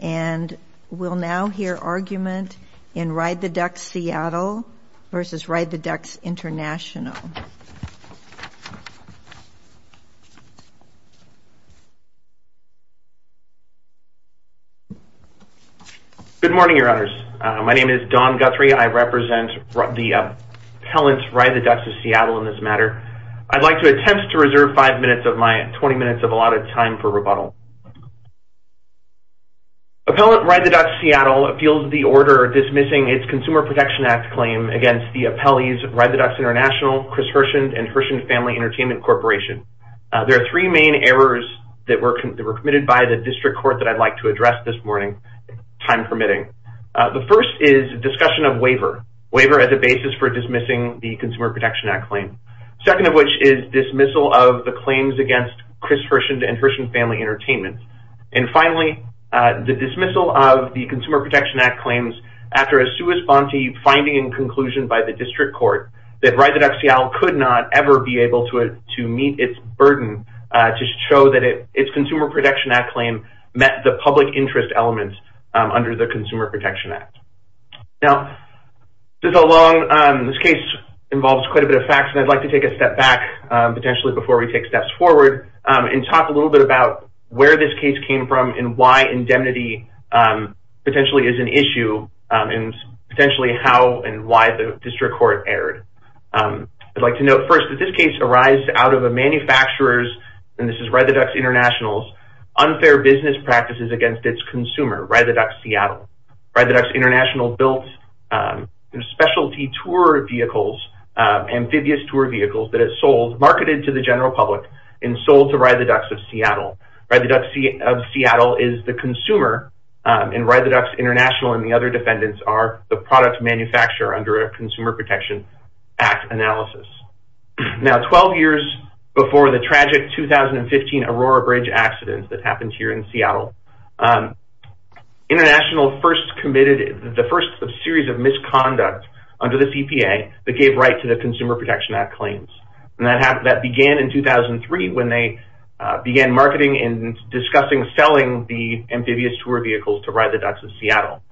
And we'll now hear argument in Ride the Ducks Seattle versus Ride the Ducks International. Good morning, your honors. My name is Don Guthrie. I represent the appellants Ride the Ducks of Seattle in this matter. I'd like to attempt to reserve five minutes of my 20 minutes of allotted time for rebuttal. Appellant Ride the Ducks Seattle appeals the order dismissing its Consumer Protection Act claim against the appellees Ride the Ducks International, Chris Hirshend, and Hirshend Family Entertainment Corporation. There are three main errors that were committed by the district court that I'd like to address this morning, time permitting. The first is discussion of waiver. Waiver as a basis for dismissing the Consumer Protection Act claim. Second of which is dismissal of the claims against Chris Hirshend and Hirshend Family Entertainment. And finally, the dismissal of the Consumer Protection Act claims after a sua sponte finding and conclusion by the district court that Ride the Ducks Seattle could not ever be able to meet its burden to show that its Consumer Protection Act claim met the public interest element under the Consumer Protection Act. Now, this case involves quite a bit of facts and I'd like to take a step back potentially before we take steps forward and talk a little bit about where this case came from and why indemnity potentially is an issue and potentially how and why the district court erred. I'd like to note first that this case arised out of a manufacturer's, and this is Ride the Ducks International's, unfair business practices against its consumer, Ride the Ducks Seattle. Ride the Ducks International built specialty tour vehicles, amphibious tour vehicles, that it sold, marketed to the general public, and sold to Ride the Ducks of Seattle. Ride the Ducks of Seattle is the consumer and Ride the Ducks International and the other defendants are the product manufacturer under a Consumer Protection Act analysis. Now, 12 years before the tragic 2015 Aurora Bridge accident that happened here in Seattle, International first committed the first series of misconduct under the CPA that gave right to the Consumer Protection Act claims. And that began in 2003 when they began marketing and discussing selling the amphibious tour vehicles to Ride the Ducks of Seattle.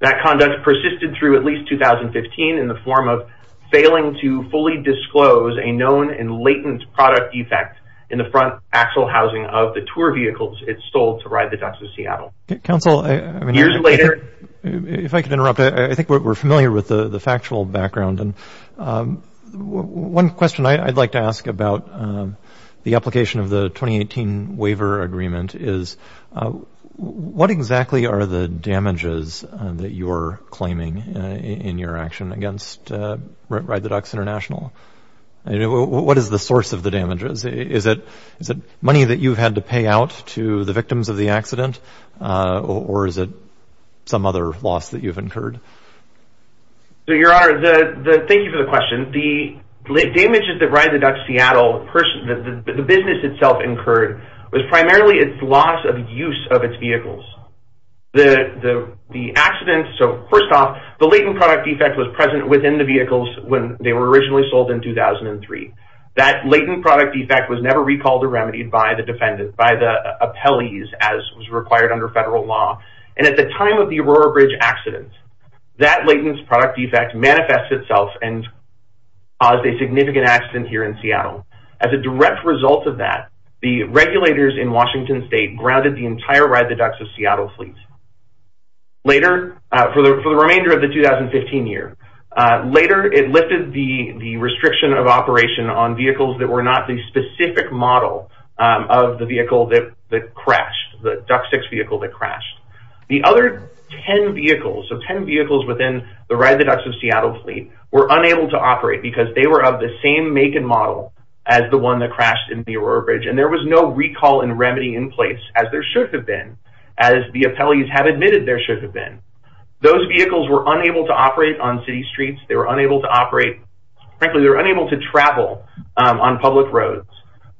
That conduct persisted through at least 2015 in the form of failing to fully disclose a known and latent product defect in the front axle housing of the tour vehicles it sold to Ride the Ducks of Seattle. Years later... Counsel, if I could interrupt. I think we're familiar with the factual background. One question I'd like to ask about the application of the 2018 waiver agreement is what exactly are the damages that you're claiming in your action against Ride the Ducks International? What is the source of the damages? Is it money that you've had to pay out to the victims of the accident or is it some other loss that you've incurred? Your Honor, thank you for the question. The damages that Ride the Ducks of Seattle, the business itself incurred was primarily its loss of use of its vehicles. The accident, so first off, the latent product defect was present within the vehicles when they were originally sold in 2003. That latent product defect was never recalled or remedied by the defendant, by the appellees as was required under federal law. And at the time of the Aurora Bridge accident, that latent product defect manifests itself and caused a significant accident here in Seattle. As a direct result of that, the regulators in Washington State grounded the entire Ride the Ducks of Seattle fleet. Later, for the remainder of the 2015 year, later it lifted the restriction of operation on vehicles that were not the The other 10 vehicles, so 10 vehicles within the Ride the Ducks of Seattle fleet were unable to operate because they were of the same make and model as the one that crashed in the Aurora Bridge. And there was no recall and remedy in place as there should have been, as the appellees have admitted there should have been. Those vehicles were unable to operate on city streets. They were unable to operate – frankly, they were unable to travel on public roads.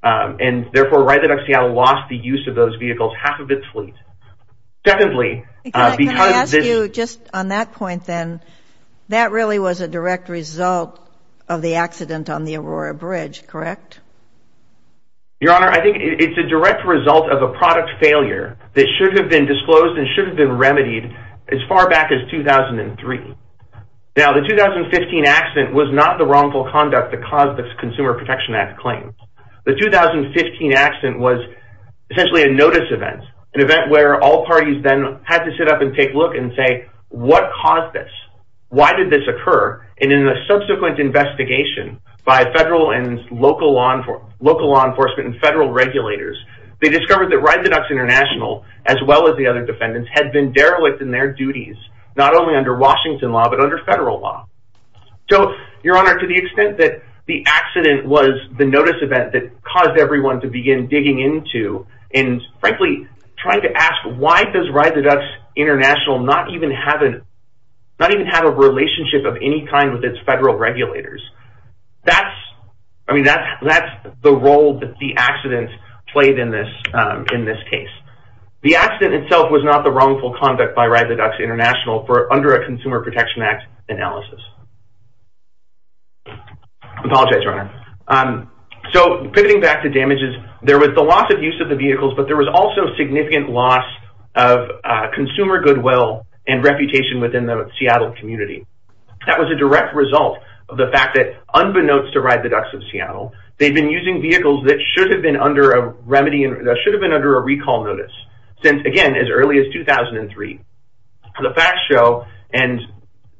And therefore, Ride the Ducks of Seattle lost the use of those vehicles, half of its fleet. Secondly, because – Can I ask you, just on that point then, that really was a direct result of the accident on the Aurora Bridge, correct? Your Honor, I think it's a direct result of a product failure that should have been disclosed and should have been remedied as far back as 2003. Now, the 2015 accident was not the wrongful conduct that caused the Consumer Protection Act claims. The 2015 accident was essentially a notice event, an event where all parties then had to sit up and take a look and say, what caused this? Why did this occur? And in a subsequent investigation by federal and local law enforcement and federal regulators, they discovered that Ride the Ducks International, as well as the other defendants, had been derelict in their duties, not only under Washington law, but under federal law. So, Your Honor, to the extent that the accident was the notice event that caused everyone to begin digging into and, frankly, trying to ask, why does Ride the Ducks International not even have a relationship of any kind with its federal regulators? That's – I mean, that's the role that the accident played in this case. The accident itself was not the wrongful conduct by Ride the Ducks International under a Consumer Protection Act analysis. I apologize, Your Honor. So, pivoting back to damages, there was the loss of use of the vehicles, but there was also significant loss of consumer goodwill and reputation within the Seattle community. That was a direct result of the fact that, unbeknownst to Ride the Ducks of Seattle, they've been using vehicles that should have been under a recall notice since, again, as early as 2003. The facts show, and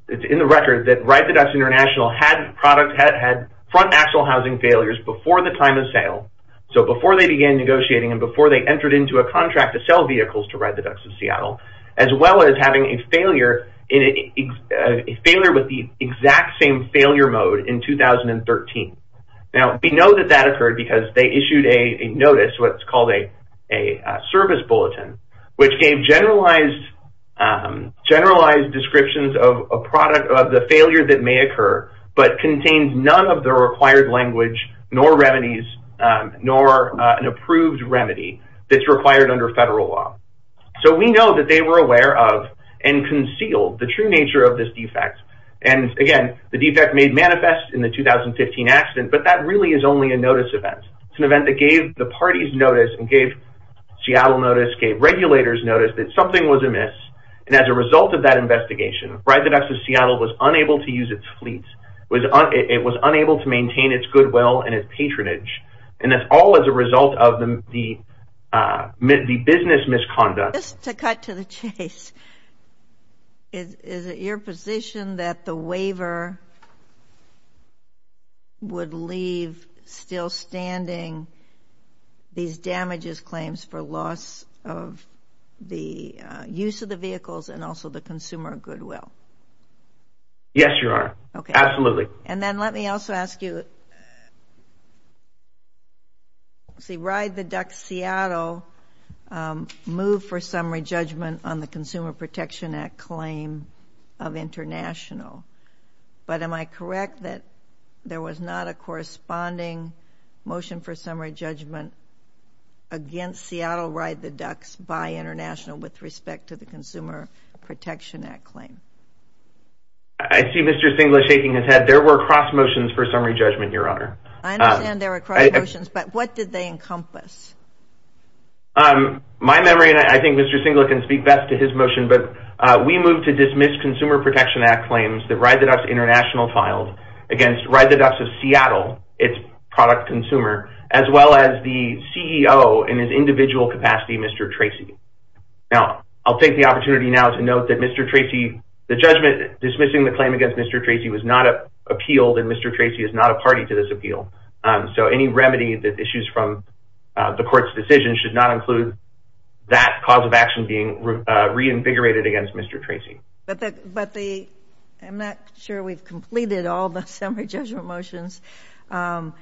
it's in the record, that Ride the Ducks International had front axle housing failures before the time of sale, so before they began negotiating and before they entered into a contract to sell vehicles to Ride the Ducks of Seattle, as well as having a failure with the exact same failure mode in 2013. Now, we know that that occurred because they issued a notice, what's called a service bulletin, which gave generalized descriptions of a product of the failure that may occur, but contains none of the required language, nor remedies, nor an approved remedy that's required under federal law. So, we know that they were aware of and concealed the true nature of this defect. And, again, the defect made manifest in the 2015 accident, but that really is only a notice event. It's an event that gave the parties notice and gave Seattle notice, gave regulators notice that something was amiss, and as a result of that investigation, Ride the Ducks of Seattle was unable to use its fleet. It was unable to maintain its goodwill and its patronage, and that's all as a result of the business misconduct. Just to cut to the chase, is it your position that the waiver would leave still standing these damages claims for loss of the use of the vehicles and also the consumer goodwill? Yes, Your Honor. Okay. Absolutely. And then let me also ask you, Ride the Ducks Seattle moved for summary judgment on the Consumer Protection Act claim of International, but am I correct that there was not a corresponding motion for summary judgment against Seattle Ride the Ducks by International with respect to the Consumer Protection Act claim? I see Mr. Singla shaking his head. There were cross motions for summary judgment, Your Honor. I understand there were cross motions, but what did they encompass? My memory, and I think Mr. Singla can speak best to his motion, but we moved to dismiss Consumer Protection Act claims that Ride the Ducks International filed against Ride the Ducks of Seattle, its product consumer, as well as the CEO in his individual capacity, Mr. Tracy. Now, I'll take the opportunity now to note that Mr. Tracy, the judgment dismissing the claim against Mr. Tracy was not appealed and Mr. Tracy is not a party to this appeal. So any remedy that issues from the court's decision should not include that cause of action being reinvigorated against Mr. Tracy. But I'm not sure we've completed all the summary judgment motions. And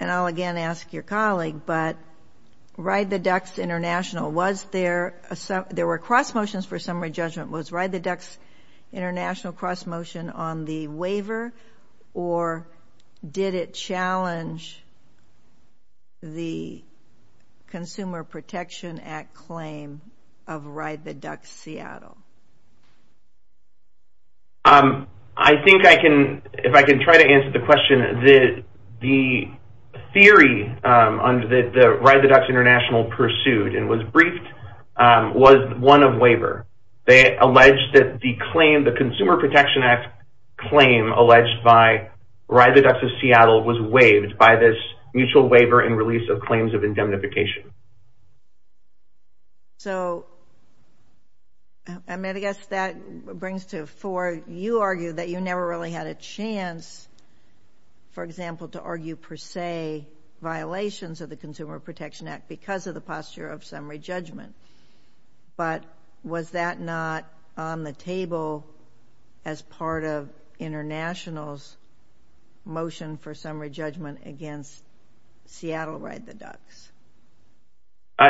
I'll again ask your colleague, but Ride the Ducks International, there were cross motions for summary judgment. Was Ride the Ducks International cross motion on the waiver or did it challenge the Consumer Protection Act claim of Ride the Ducks Seattle? I think I can, if I can try to answer the question, the theory that Ride the Ducks International pursued and was briefed was one of waiver. They alleged that the claim, the Consumer Protection Act claim alleged by Ride the Ducks of Seattle was waived by this mutual waiver and release of claims of indemnification. So, I mean, I guess that brings to a fore. You argue that you never really had a chance, for example, to argue per se violations of the Consumer Protection Act because of the posture of summary judgment. But was that not on the table as part of International's motion for summary judgment against Seattle Ride the Ducks?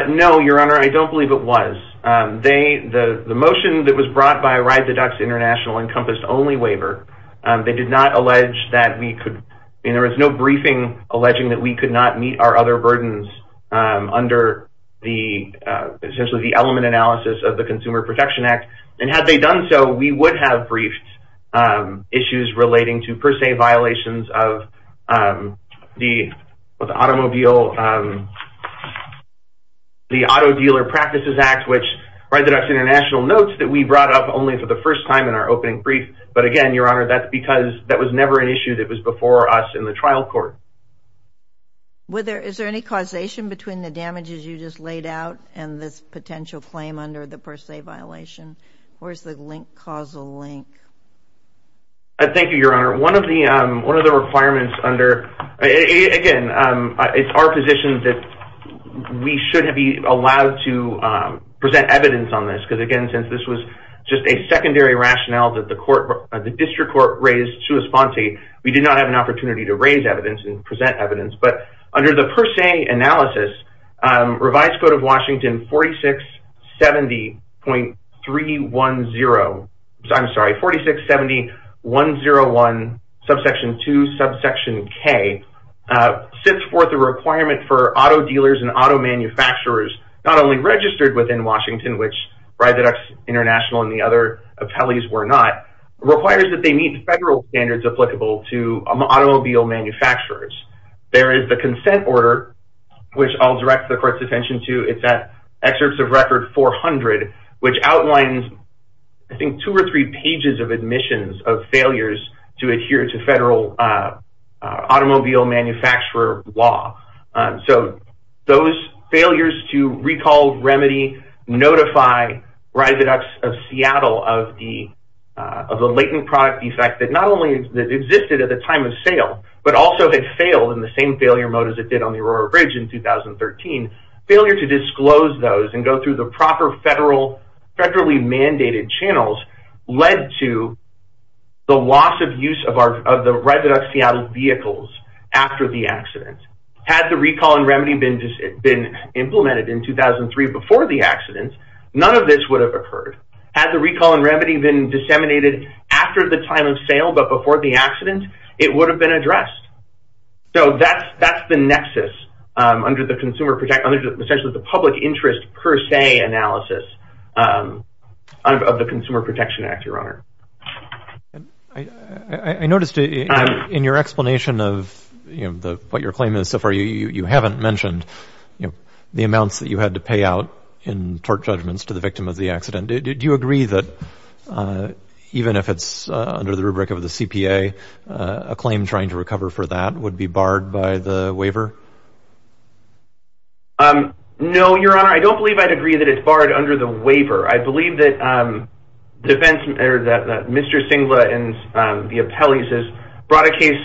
No, Your Honor. I don't believe it was. The motion that was brought by Ride the Ducks International encompassed only waiver. They did not allege that we could, and there was no briefing alleging that we could not meet our other burdens under the, essentially the element analysis of the Consumer Protection Act. And had they done so, we would have briefed issues relating to per se violations of the automobile, the Auto Dealer Practices Act, which Ride the Ducks International notes that we brought up only for the first time in our opening brief. But, again, Your Honor, that's because that was never an issue that was before us in the trial court. Is there any causation between the damages you just laid out and this potential claim under the per se violation? Where's the causal link? Thank you, Your Honor. One of the requirements under, again, it's our position that we should be allowed to present evidence on this because, again, since this was just a secondary rationale that the district court raised to Esfanti, we did not have an opportunity to raise evidence and present evidence. But under the per se analysis, Revised Code of Washington 4670.310, I'm sorry, 4670.101, Subsection 2, Subsection K, sets forth a requirement for auto dealers and auto manufacturers not only registered within Washington, which Ride the Ducks International and the other appellees were not, requires that they meet federal standards applicable to automobile manufacturers. There is the consent order, which I'll direct the court's attention to. It's at Excerpts of Record 400, which outlines, I think, two or three pages of admissions of failures to adhere to federal automobile manufacturer law. So those failures to recall, remedy, notify Ride the Ducks of Seattle of the latent product defect that not only existed at the time of sale, but also had failed in the same failure mode as it did on the Aurora Bridge in 2013, failure to disclose those and go through the proper federally mandated channels led to the loss of use of the Ride the Ducks Seattle vehicles after the accident. Had the recall and remedy been implemented in 2003 before the accident, none of this would have occurred. Had the recall and remedy been disseminated after the time of sale but before the accident, it would have been addressed. So that's the nexus under the consumer, essentially the public interest per se analysis of the Consumer Protection Act, Your Honor. I noticed in your explanation of what your claim is so far, you haven't mentioned the amounts that you had to pay out in tort judgments to the victim of the accident. Do you agree that even if it's under the rubric of the CPA, a claim trying to recover for that would be barred by the waiver? No, Your Honor. I don't believe I'd agree that it's barred under the waiver. I believe that Mr. Singla and the appellees has brought a case.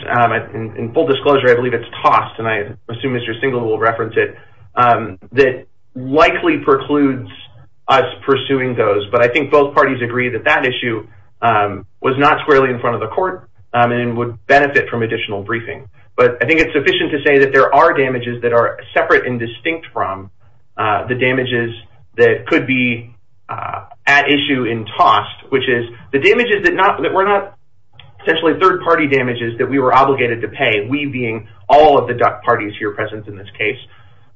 In full disclosure, I believe it's tossed, and I assume Mr. Singla will reference it, that likely precludes us pursuing those. But I think both parties agree that that issue was not squarely in front of the court and would benefit from additional briefing. But I think it's sufficient to say that there are damages that are separate and distinct from the damages that could be at issue in tossed, which is the damages that were not essentially third-party damages that we were obligated to pay, we being all of the duck parties here present in this case.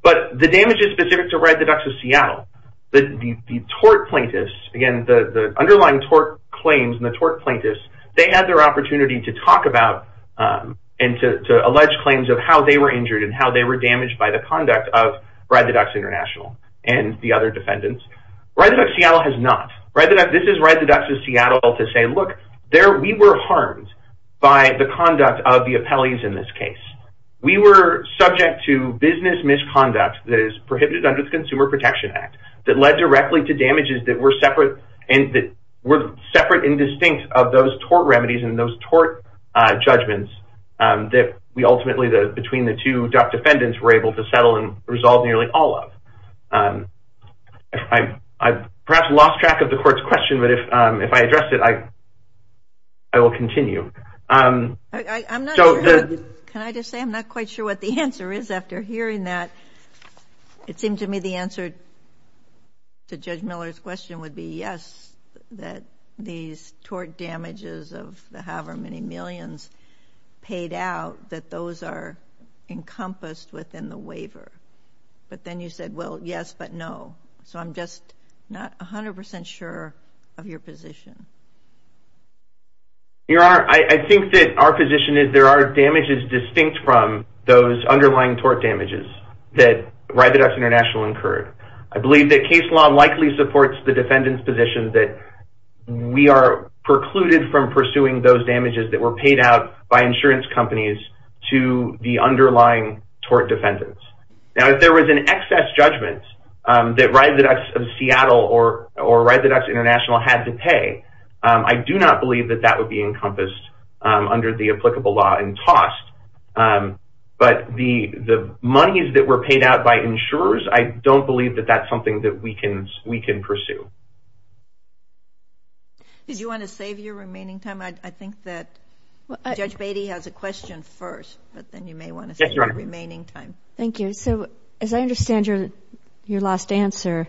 But the damage is specific to Ride the Ducks of Seattle. The tort plaintiffs, again, the underlying tort claims and the tort plaintiffs, they had their opportunity to talk about and to allege claims of how they were injured and how they were damaged by the conduct of Ride the Ducks International and the other defendants. Ride the Ducks of Seattle has not. This is Ride the Ducks of Seattle to say, look, we were harmed by the conduct of the appellees in this case. We were subject to business misconduct that is prohibited under the Consumer Protection Act that led directly to damages that were separate and distinct of those tort remedies and those tort judgments that we ultimately, between the two duck defendants, were able to settle and resolve nearly all of. I've perhaps lost track of the court's question, but if I address it, I will continue. Can I just say I'm not quite sure what the answer is after hearing that. It seemed to me the answer to Judge Miller's question would be yes, that these tort damages of the however many millions paid out, that those are encompassed within the waiver. But then you said, well, yes, but no. So I'm just not 100% sure of your position. Your Honor, I think that our position is there are damages distinct from those underlying tort damages that Ride the Ducks International incurred. I believe that case law likely supports the defendant's position that we are precluded from pursuing those damages that were paid out by insurance companies to the underlying tort defendants. Now, if there was an excess judgment that Ride the Ducks of Seattle or Ride the Ducks International had to pay, I do not believe that that would be encompassed under the applicable law and tossed. But the monies that were paid out by insurers, I don't believe that that's something that we can pursue. Did you want to save your remaining time? I think that Judge Beatty has a question first, but then you may want to save your remaining time. Yes, Your Honor. Thank you. Okay, so as I understand your last answer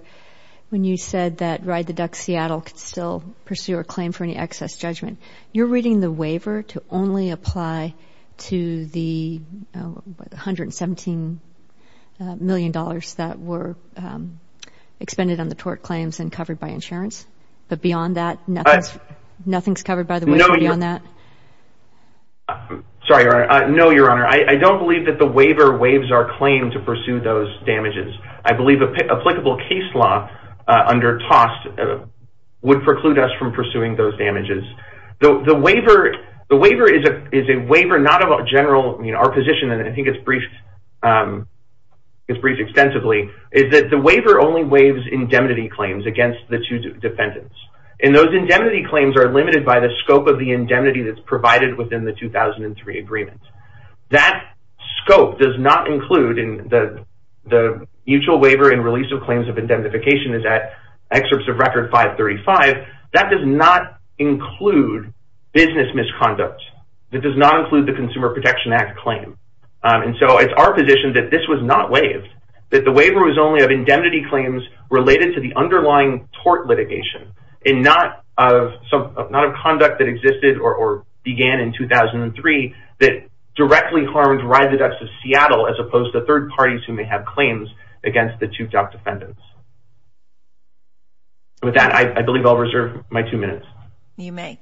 when you said that Ride the Ducks Seattle could still pursue or claim for any excess judgment, you're reading the waiver to only apply to the $117 million that were expended on the tort claims and covered by insurance? But beyond that, nothing's covered by the waiver beyond that? No, Your Honor. I don't believe that the waiver waives our claim to pursue those damages. I believe applicable case law under tossed would preclude us from pursuing those damages. The waiver is a waiver not of a general position, and I think it's briefed extensively, is that the waiver only waives indemnity claims against the two defendants. And those indemnity claims are limited by the scope of the indemnity that's provided within the 2003 agreement. That scope does not include the mutual waiver and release of claims of indemnification is at excerpts of Record 535. That does not include business misconduct. It does not include the Consumer Protection Act claim. And so it's our position that this was not waived, that the waiver was only of indemnity claims related to the underlying tort litigation and not of conduct that existed or began in 2003 that directly harmed Ride the Ducks of Seattle as opposed to third parties who may have claims against the two top defendants. With that, I believe I'll reserve my two minutes. You may.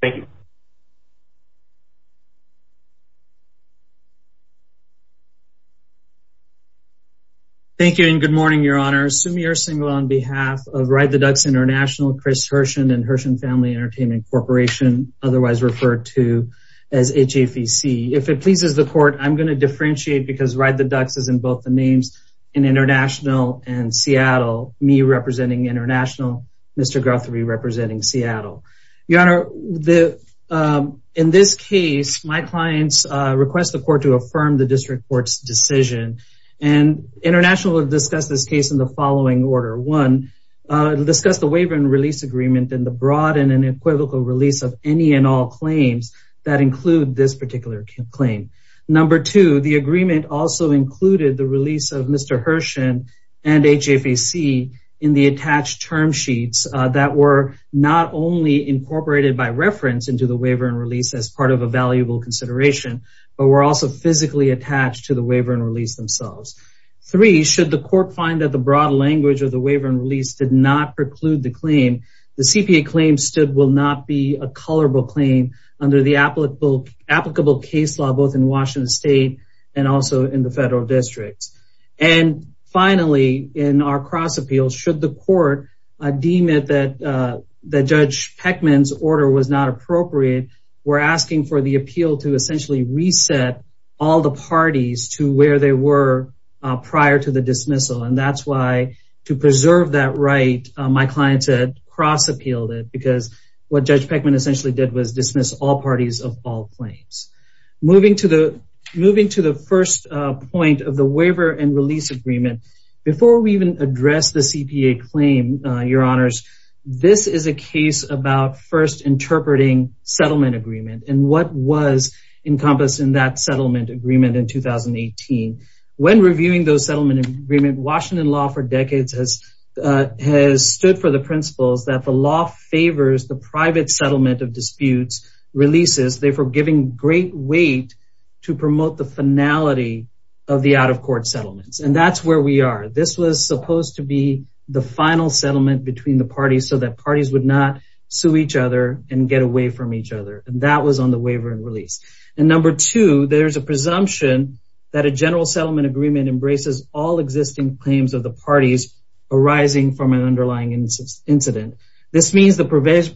Thank you. Thank you. Thank you and good morning, Your Honor. Sumi Ersingala on behalf of Ride the Ducks International, Chris Hirschen, and Hirschen Family Entertainment Corporation, otherwise referred to as HFEC. If it pleases the court, I'm going to differentiate because Ride the Ducks is in both the names in International and Seattle, me representing International, Mr. Guthrie representing Seattle. Your Honor, in this case, my clients request the court to affirm the district court's decision. And International will discuss this case in the following order. One, discuss the waiver and release agreement and the broad and unequivocal release of any and all claims that include this particular claim. Number two, the agreement also included the release of Mr. Hirschen and HFEC in the attached term sheets that were not only incorporated by reference into the waiver and release as part of a valuable consideration, but were also physically attached to the waiver and release themselves. Three, should the court find that the broad language of the waiver and release did not preclude the claim, the CPA claim stood will not be a colorable claim under the applicable case law, both in Washington State and also in the federal districts. And finally, in our cross appeal, should the court deem it that Judge Peckman's order was not appropriate, we're asking for the appeal to essentially reset all the parties to where they were prior to the dismissal. And that's why to preserve that right, my clients had cross appealed it, because what Judge Peckman essentially did was dismiss all parties of all claims. Moving to the first point of the waiver and release agreement, before we even address the CPA claim, your honors, this is a case about first interpreting settlement agreement and what was encompassed in that settlement agreement in 2018. When reviewing those settlement agreement, Washington law for decades has stood for the principles that the law favors the private settlement of disputes, releases, therefore giving great weight to promote the finality of the out of court settlements. And that's where we are. This was supposed to be the final settlement between the parties so that parties would not sue each other and get away from each other. And that was on the waiver and release. And number two, there's a presumption that a general settlement agreement embraces all existing claims of the parties arising from an underlying incident. This means the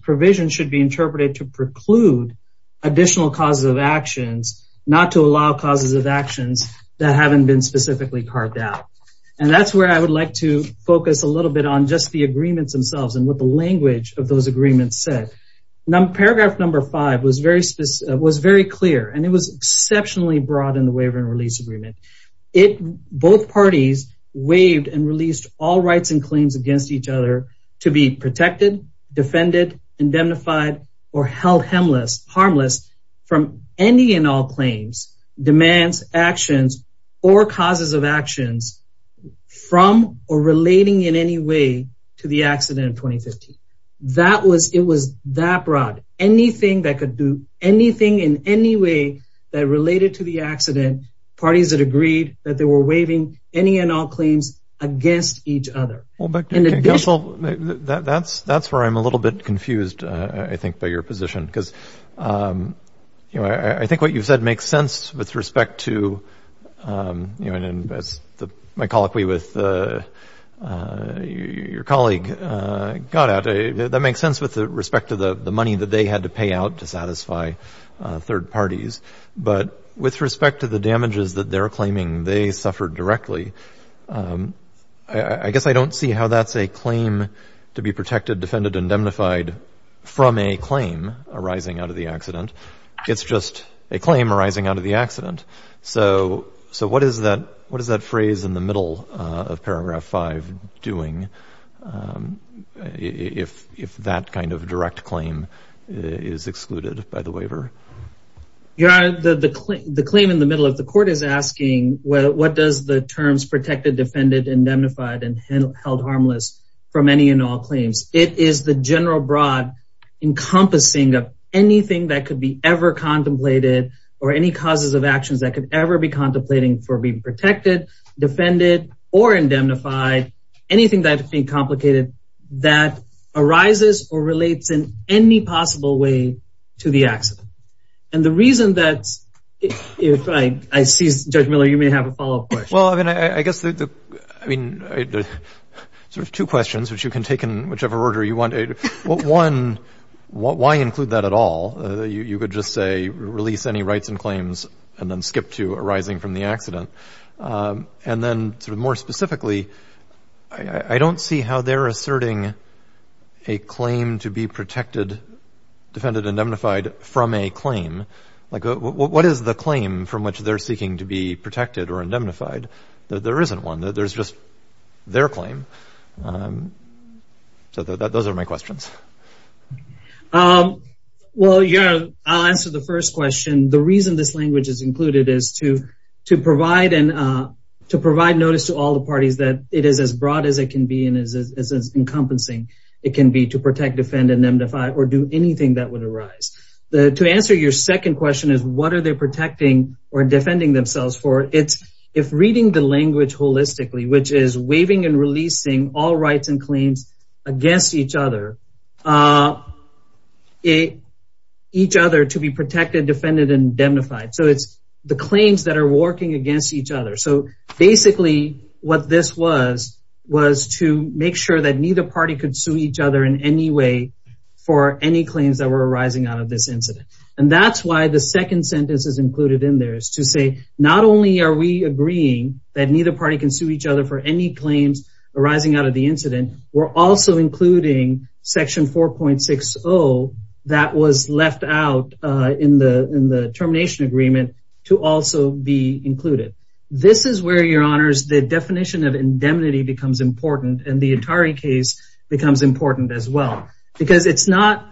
provision should be interpreted to preclude additional causes of actions, not to allow causes of actions that haven't been specifically carved out. And that's where I would like to focus a little bit on just the agreements themselves and what the language of those agreements said. Paragraph number five was very clear, and it was exceptionally broad in the waiver and release agreement. Both parties waived and released all rights and claims against each other to be protected, defended, indemnified, or held harmless from any and all claims, demands, actions, or causes of actions from or relating in any way to the accident of 2015. It was that broad. Anything that could do anything in any way that related to the accident, parties that agreed that they were waiving any and all claims against each other. Well, but counsel, that's where I'm a little bit confused, I think, by your position. Because, you know, I think what you've said makes sense with respect to, you know, as my colloquy with your colleague got at, that makes sense with respect to the money that they had to pay out to satisfy third parties. But with respect to the damages that they're claiming, they suffered directly. I guess I don't see how that's a claim to be protected, defended, indemnified from a claim arising out of the accident. It's just a claim arising out of the accident. So what is that phrase in the middle of paragraph five doing if that kind of direct claim is excluded by the waiver? Your Honor, the claim in the middle of the court is asking, what does the terms protected, defended, indemnified and held harmless for many and all claims? It is the general broad encompassing of anything that could be ever contemplated or any causes of actions that could ever be contemplating for being protected, defended or indemnified. Anything that could be complicated that arises or relates in any possible way to the accident. And the reason that's, if I see, Judge Miller, you may have a follow up question. Well, I mean, I guess, I mean, there's two questions which you can take in whichever order you want. One, why include that at all? You could just say release any rights and claims and then skip to arising from the accident. And then more specifically, I don't see how they're asserting a claim to be protected, defended, indemnified from a claim. What is the claim from which they're seeking to be protected or indemnified? There isn't one. There's just their claim. So those are my questions. Well, Your Honor, I'll answer the first question. The reason this language is included is to to provide and to provide notice to all the parties that it is as broad as it can be and is as encompassing. It can be to protect, defend and indemnify or do anything that would arise. To answer your second question is what are they protecting or defending themselves for? It's if reading the language holistically, which is waiving and releasing all rights and claims against each other. It each other to be protected, defended and indemnified. So it's the claims that are working against each other. So basically what this was was to make sure that neither party could sue each other in any way for any claims that were arising out of this incident. And that's why the second sentence is included in there is to say not only are we agreeing that neither party can sue each other for any claims arising out of the incident. We're also including section four point six. Oh, that was left out in the in the termination agreement to also be included. This is where your honors, the definition of indemnity becomes important and the Atari case becomes important as well because it's not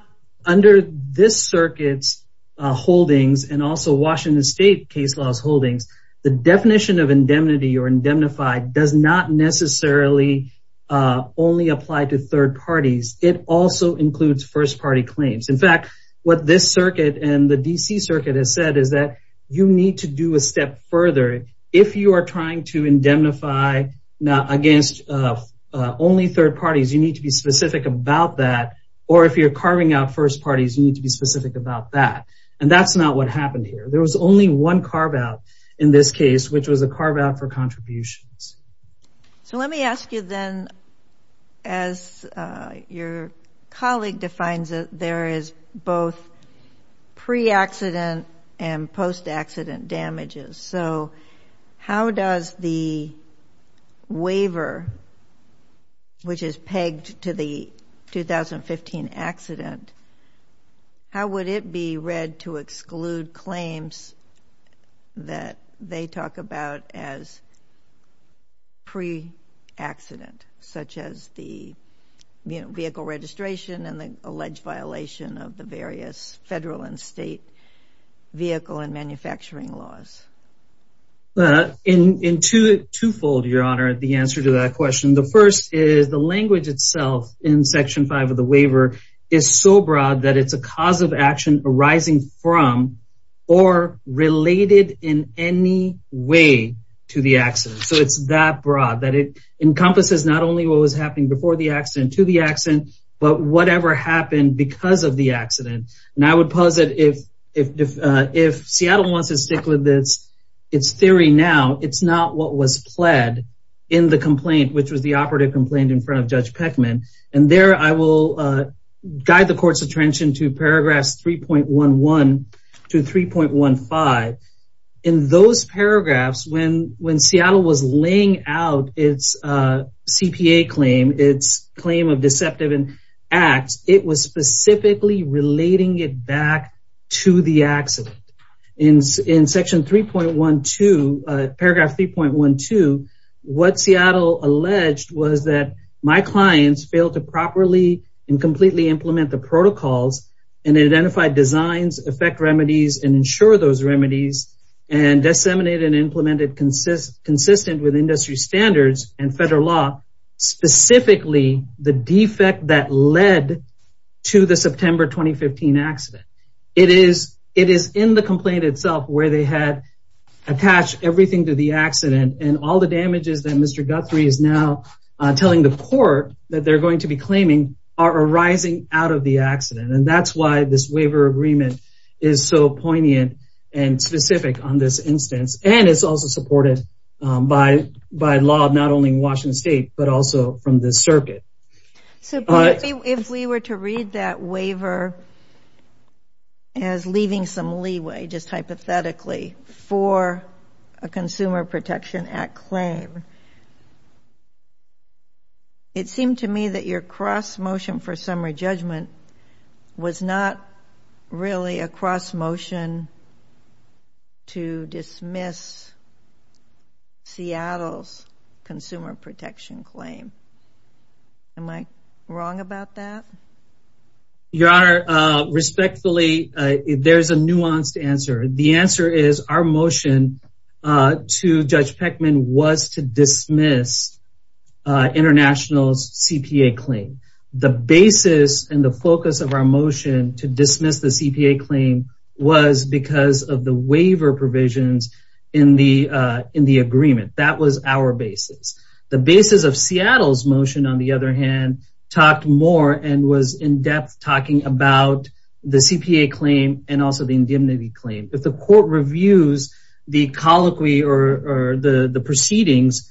under this circuits holdings and also Washington state case laws holdings. The definition of indemnity or indemnified does not necessarily only apply to third parties. It also includes first party claims. In fact, what this circuit and the D.C. circuit has said is that you need to do a step further if you are trying to indemnify against only third parties. You need to be specific about that. Or if you're carving out first parties, you need to be specific about that. And that's not what happened here. There was only one carve out in this case, which was a carve out for contributions. So let me ask you then, as your colleague defines it, there is both pre accident and post accident damages. So how does the waiver, which is pegged to the 2015 accident, how would it be read to exclude claims that they talk about as pre accident, such as the vehicle registration and the alleged violation of the various federal and state vehicle and manufacturing laws? In two fold, your honor, the answer to that question. The first is the language itself in section five of the waiver is so broad that it's a cause of action arising from or related in any way to the accident. So it's that broad that it encompasses not only what was happening before the accident to the accident, but whatever happened because of the accident. And I would posit if if if Seattle wants to stick with this, it's theory now. It's not what was pled in the complaint, which was the operative complaint in front of Judge Peckman. And there I will guide the court's attention to paragraphs three point one one to three point one five. In those paragraphs, when when Seattle was laying out its CPA claim, its claim of deceptive and acts, it was specifically relating it back to the accident. In section three point one to paragraph three point one to what Seattle alleged was that my clients failed to properly and completely implement the protocols and identify designs, affect remedies and ensure those remedies and disseminated and implemented consistent, consistent with industry standards and federal law. Specifically the defect that led to the September 2015 accident. It is it is in the complaint itself where they had attached everything to the accident and all the damages that Mr. Guthrie is now telling the court that they're going to be claiming are arising out of the accident. And that's why this waiver agreement is so poignant and specific on this instance. And it's also supported by by law, not only in Washington state, but also from the circuit. So if we were to read that waiver as leaving some leeway, just hypothetically for a Consumer Protection Act claim. It seemed to me that your cross motion for summary judgment was not really a cross motion to dismiss Seattle's Consumer Protection claim. Am I wrong about that? Your Honor, respectfully, there's a nuanced answer. The answer is our motion to Judge Peckman was to dismiss international CPA claim. The basis and the focus of our motion to dismiss the CPA claim was because of the waiver provisions in the in the agreement. That was our basis. The basis of Seattle's motion, on the other hand, talked more and was in depth talking about the CPA claim and also the indemnity claim. If the court reviews the colloquy or the proceedings,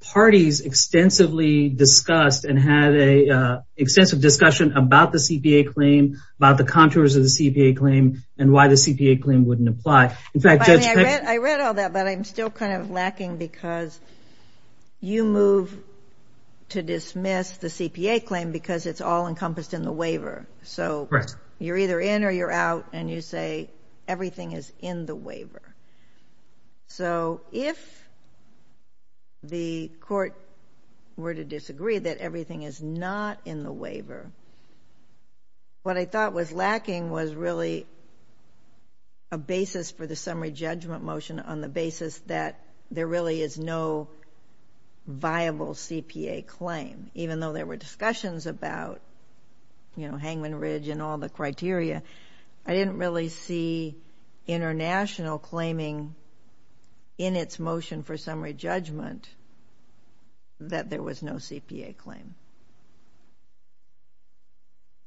parties extensively discussed and had a extensive discussion about the CPA claim, about the contours of the CPA claim and why the CPA claim wouldn't apply. I read all that, but I'm still kind of lacking because you move to dismiss the CPA claim because it's all encompassed in the waiver. So you're either in or you're out and you say everything is in the waiver. So if the court were to disagree that everything is not in the waiver, what I thought was lacking was really a basis for the summary judgment motion on the basis that there really is no viable CPA claim. Even though there were discussions about, you know, Hangman Ridge and all the criteria, I didn't really see international claiming in its motion for summary judgment that there was no CPA claim.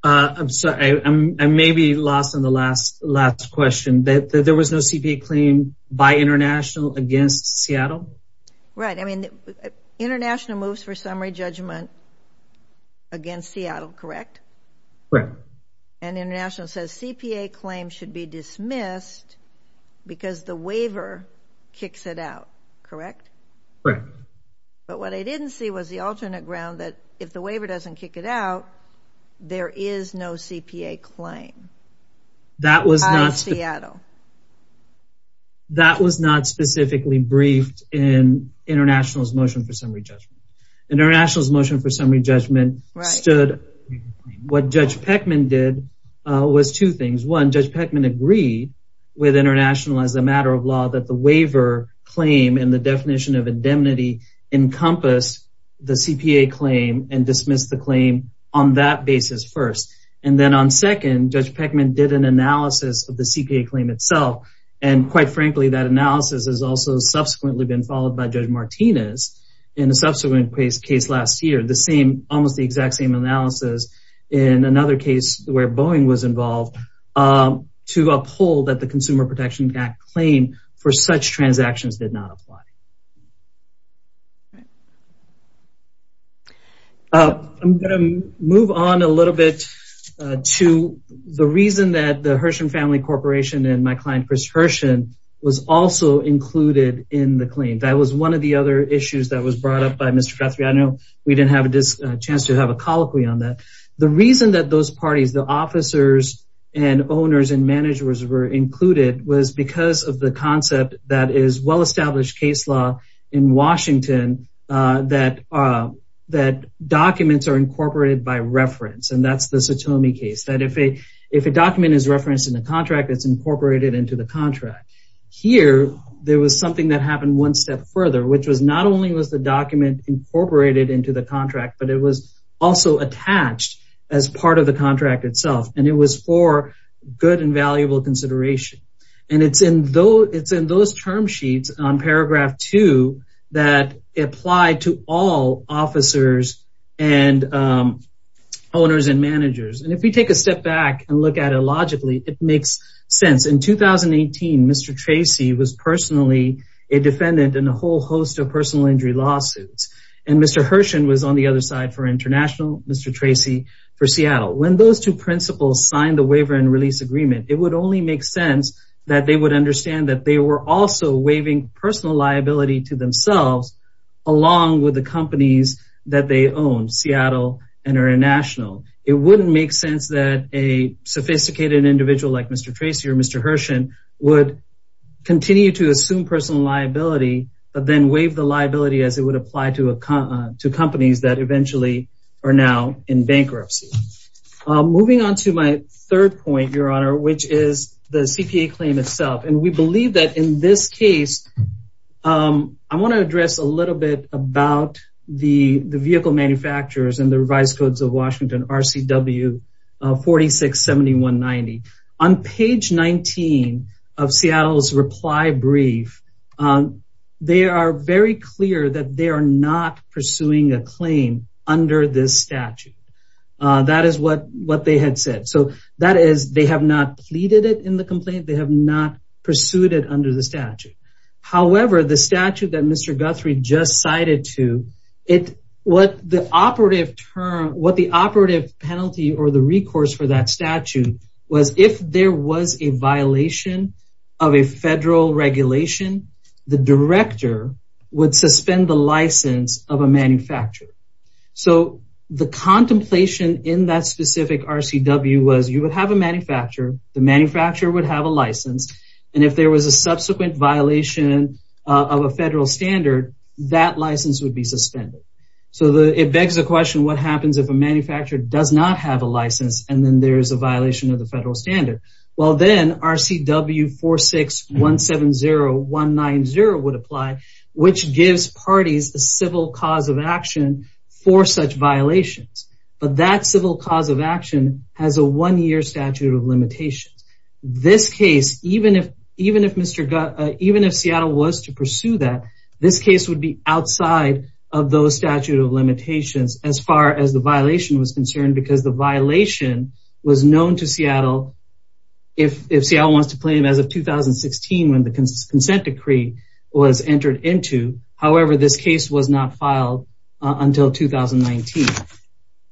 I'm sorry, I may be lost on the last question. There was no CPA claim by international against Seattle? Right. I mean, international moves for summary judgment against Seattle, correct? Correct. And international says CPA claim should be dismissed because the waiver kicks it out, correct? Correct. But what I didn't see was the alternate ground that if the waiver doesn't kick it out, there is no CPA claim. That was not... Out of Seattle. That was not specifically briefed in international's motion for summary judgment. International's motion for summary judgment stood... Right. What Judge Peckman did was two things. One, Judge Peckman agreed with international as a matter of law that the waiver claim and the definition of indemnity encompass the CPA claim and dismiss the claim on that basis first. And then on second, Judge Peckman did an analysis of the CPA claim itself. And quite frankly, that analysis has also subsequently been followed by Judge Martinez in a subsequent case last year. The same, almost the exact same analysis in another case where Boeing was involved to uphold that the Consumer Protection Act claim for such transactions did not apply. Right. I'm going to move on a little bit to the reason that the Herschen Family Corporation and my client Chris Herschen was also included in the claim. That was one of the other issues that was brought up by Mr. Guthrie. I know we didn't have a chance to have a colloquy on that. The reason that those parties, the officers and owners and managers were included was because of the concept that is well-established case law in Washington that documents are incorporated by reference. And that's the Satomi case. That if a document is referenced in the contract, it's incorporated into the contract. Here, there was something that happened one step further, which was not only was the document incorporated into the contract, but it was also attached as part of the contract itself. And it was for good and valuable consideration. And it's in those term sheets on paragraph two that applied to all officers and owners and managers. And if we take a step back and look at it logically, it makes sense. In 2018, Mr. Tracy was personally a defendant in a whole host of personal injury lawsuits. And Mr. Herschen was on the other side for International, Mr. Tracy for Seattle. When those two principals signed the waiver and release agreement, it would only make sense that they would understand that they were also waiving personal liability to themselves along with the companies that they own, Seattle and International. It wouldn't make sense that a sophisticated individual like Mr. Tracy or Mr. Herschen would continue to assume personal liability, but then waive the liability as it would apply to companies that eventually are now in bankruptcy. Moving on to my third point, Your Honor, which is the CPA claim itself. And we believe that in this case, I want to address a little bit about the vehicle manufacturers and the revised codes of Washington, RCW 467190. On page 19 of Seattle's reply brief, they are very clear that they are not pursuing a claim under this statute. That is what they had said. So that is they have not pleaded it in the complaint. They have not pursued it under the statute. However, the statute that Mr. Guthrie just cited to it, what the operative term, what the operative penalty or the recourse for that statute was, if there was a violation of a federal regulation, the director would suspend the license of a manufacturer. So the contemplation in that specific RCW was you would have a manufacturer, the manufacturer would have a license. And if there was a subsequent violation of a federal standard, that license would be suspended. So it begs the question, what happens if a manufacturer does not have a license and then there is a violation of the federal standard? Well, then RCW 46170190 would apply, which gives parties a civil cause of action for such violations. But that civil cause of action has a one-year statute of limitations. This case, even if Seattle was to pursue that, this case would be outside of those statute of limitations as far as the violation was concerned because the violation was known to Seattle if Seattle wants to claim as of 2016 when the consent decree was entered into. However, this case was not filed until 2019.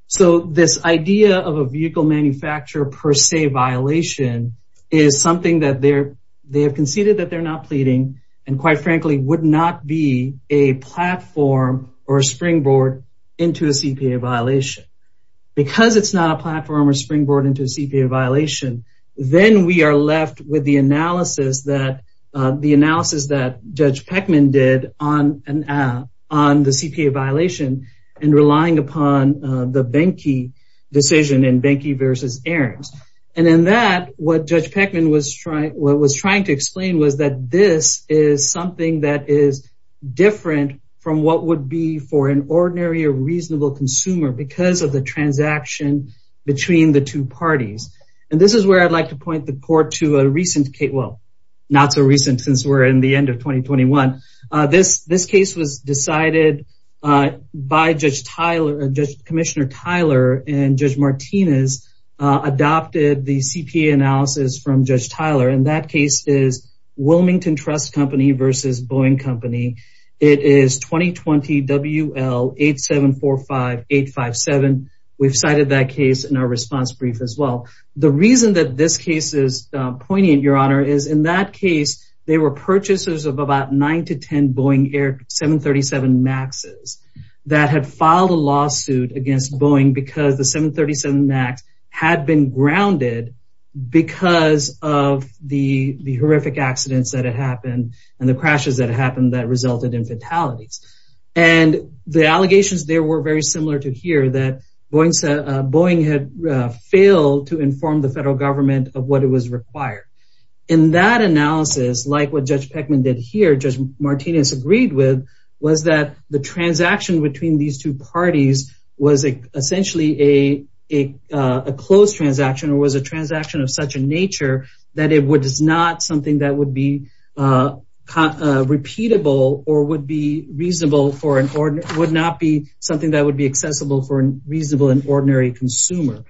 So this idea of a vehicle manufacturer per se violation is something that they have conceded that they're not pleading and quite frankly would not be a platform or a springboard into a CPA violation. Because it's not a platform or springboard into a CPA violation, then we are left with the analysis that the analysis that Judge Peckman did on the CPA violation and relying upon the Behnke decision in Behnke versus Ahrens. And in that, what Judge Peckman was trying to explain was that this is something that is different from what would be for an ordinary or reasonable consumer because of the transaction between the two parties. And this is where I'd like to point the court to a recent case. Well, not so recent since we're in the end of 2021. This case was decided by Judge Tyler, Commissioner Tyler and Judge Martinez adopted the CPA analysis from Judge Tyler and that case is Wilmington Trust Company versus Boeing Company. It is 2020 WL8745857. We've cited that case in our response brief as well. The reason that this case is poignant, Your Honor, is in that case, they were purchasers of about 9 to 10 Boeing Air 737 Maxes that had filed a lawsuit against Boeing because the 737 Max had been grounded because of the horrific accidents that had happened and the crashes that happened that resulted in fatalities. And the allegations there were very similar to here that Boeing had failed to inform the federal government of what it was required. In that analysis, like what Judge Peckman did here, Judge Martinez agreed with was that the transaction between these two parties was essentially a closed transaction or was a transaction of such a nature that it was not something that would be repeatable or would not be something that would be accessible for a reasonable and ordinary consumer.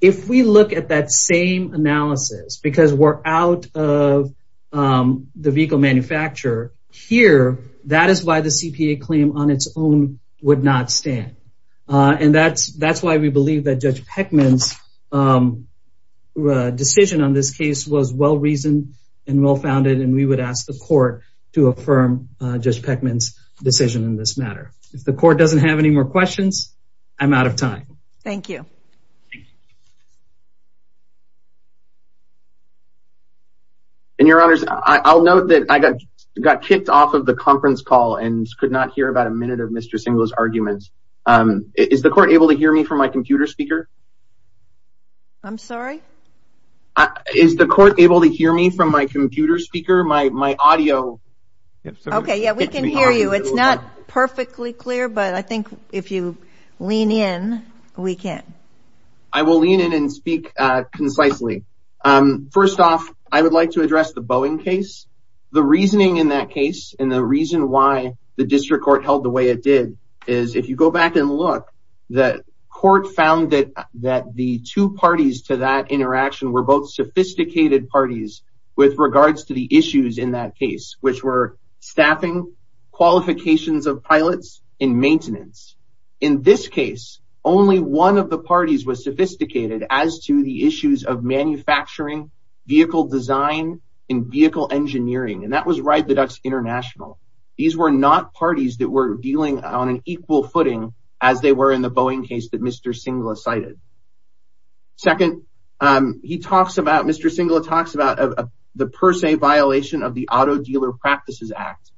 If we look at that same analysis because we're out of the vehicle manufacturer here, that is why the CPA claim on its own would not stand. And that's why we believe that Judge Peckman's decision on this case was well reasoned and well founded and we would ask the court to affirm Judge Peckman's decision in this matter. If the court doesn't have any more questions, I'm out of time. Thank you. And your honors, I'll note that I got kicked off of the conference call and could not hear about a minute of Mr. Singler's arguments. Is the court able to hear me from my computer speaker? I'm sorry? Is the court able to hear me from my computer speaker? My audio? Okay, yeah, we can hear you. It's not perfectly clear, but I think if you lean in, we can. I will lean in and speak concisely. First off, I would like to address the Boeing case. The reasoning in that case and the reason why the district court held the way it did is if you go back and look, the court found that the two parties to that interaction were both sophisticated parties with regards to the issues in that case, which were staffing, qualifications of pilots, and maintenance. In this case, only one of the parties was sophisticated as to the issues of manufacturing, vehicle design, and vehicle engineering, and that was Ride the Ducks International. These were not parties that were dealing on an equal footing as they were in the Boeing case that Mr. Singler cited. Second, Mr. Singler talks about the per se violation of the Auto Dealer Practices Act.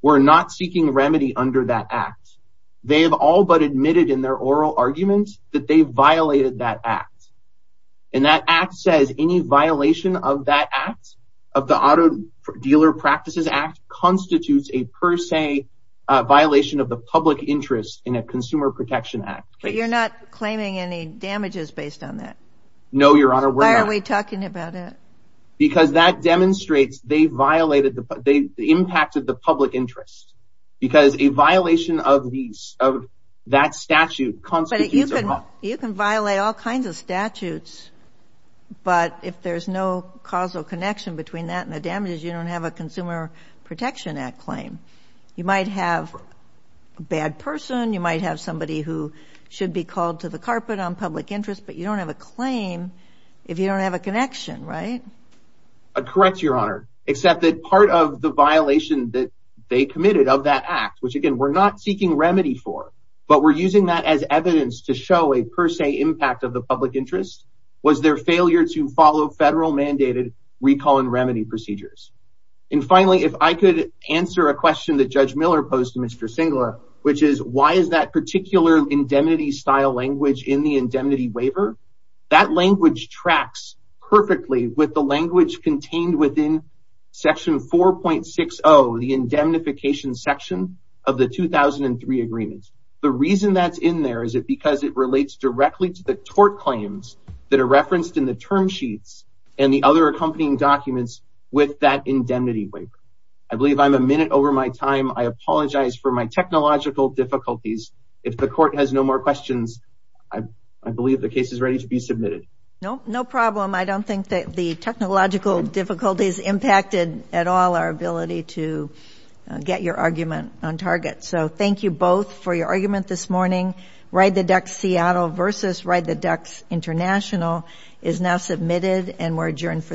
We're not seeking remedy under that act. They all but admitted in their oral argument that they violated that act. And that act says any violation of that act, of the Auto Dealer Practices Act, constitutes a per se violation of the public interest in a Consumer Protection Act case. But you're not claiming any damages based on that? No, Your Honor, we're not. Why are we talking about it? Because that demonstrates they violated, they impacted the public interest. Because a violation of that statute constitutes a violation. You can violate all kinds of statutes, but if there's no causal connection between that and the damages, you don't have a Consumer Protection Act claim. You might have a bad person, you might have somebody who should be called to the carpet on public interest, but you don't have a claim if you don't have a connection, right? Correct, Your Honor, except that part of the violation that they committed of that act, which again, we're not seeking remedy for, but we're using that as evidence to show a per se impact of the public interest, was their failure to follow federal mandated recall and remedy procedures. And finally, if I could answer a question that Judge Miller posed to Mr. Singler, which is, why is that particular indemnity style language in the indemnity waiver? That language tracks perfectly with the language contained within Section 4.60, the indemnification section of the 2003 agreement. The reason that's in there, is it because it relates directly to the tort claims that are referenced in the term sheets and the other accompanying documents with that indemnity waiver. I believe I'm a minute over my time. I apologize for my technological difficulties. If the court has no more questions, I believe the case is ready to be submitted. No, no problem. I don't think that the technological difficulties impacted at all our ability to get your argument on target. So thank you both for your argument this morning. Ride the Ducks Seattle versus Ride the Ducks International is now submitted and we're adjourned for the morning.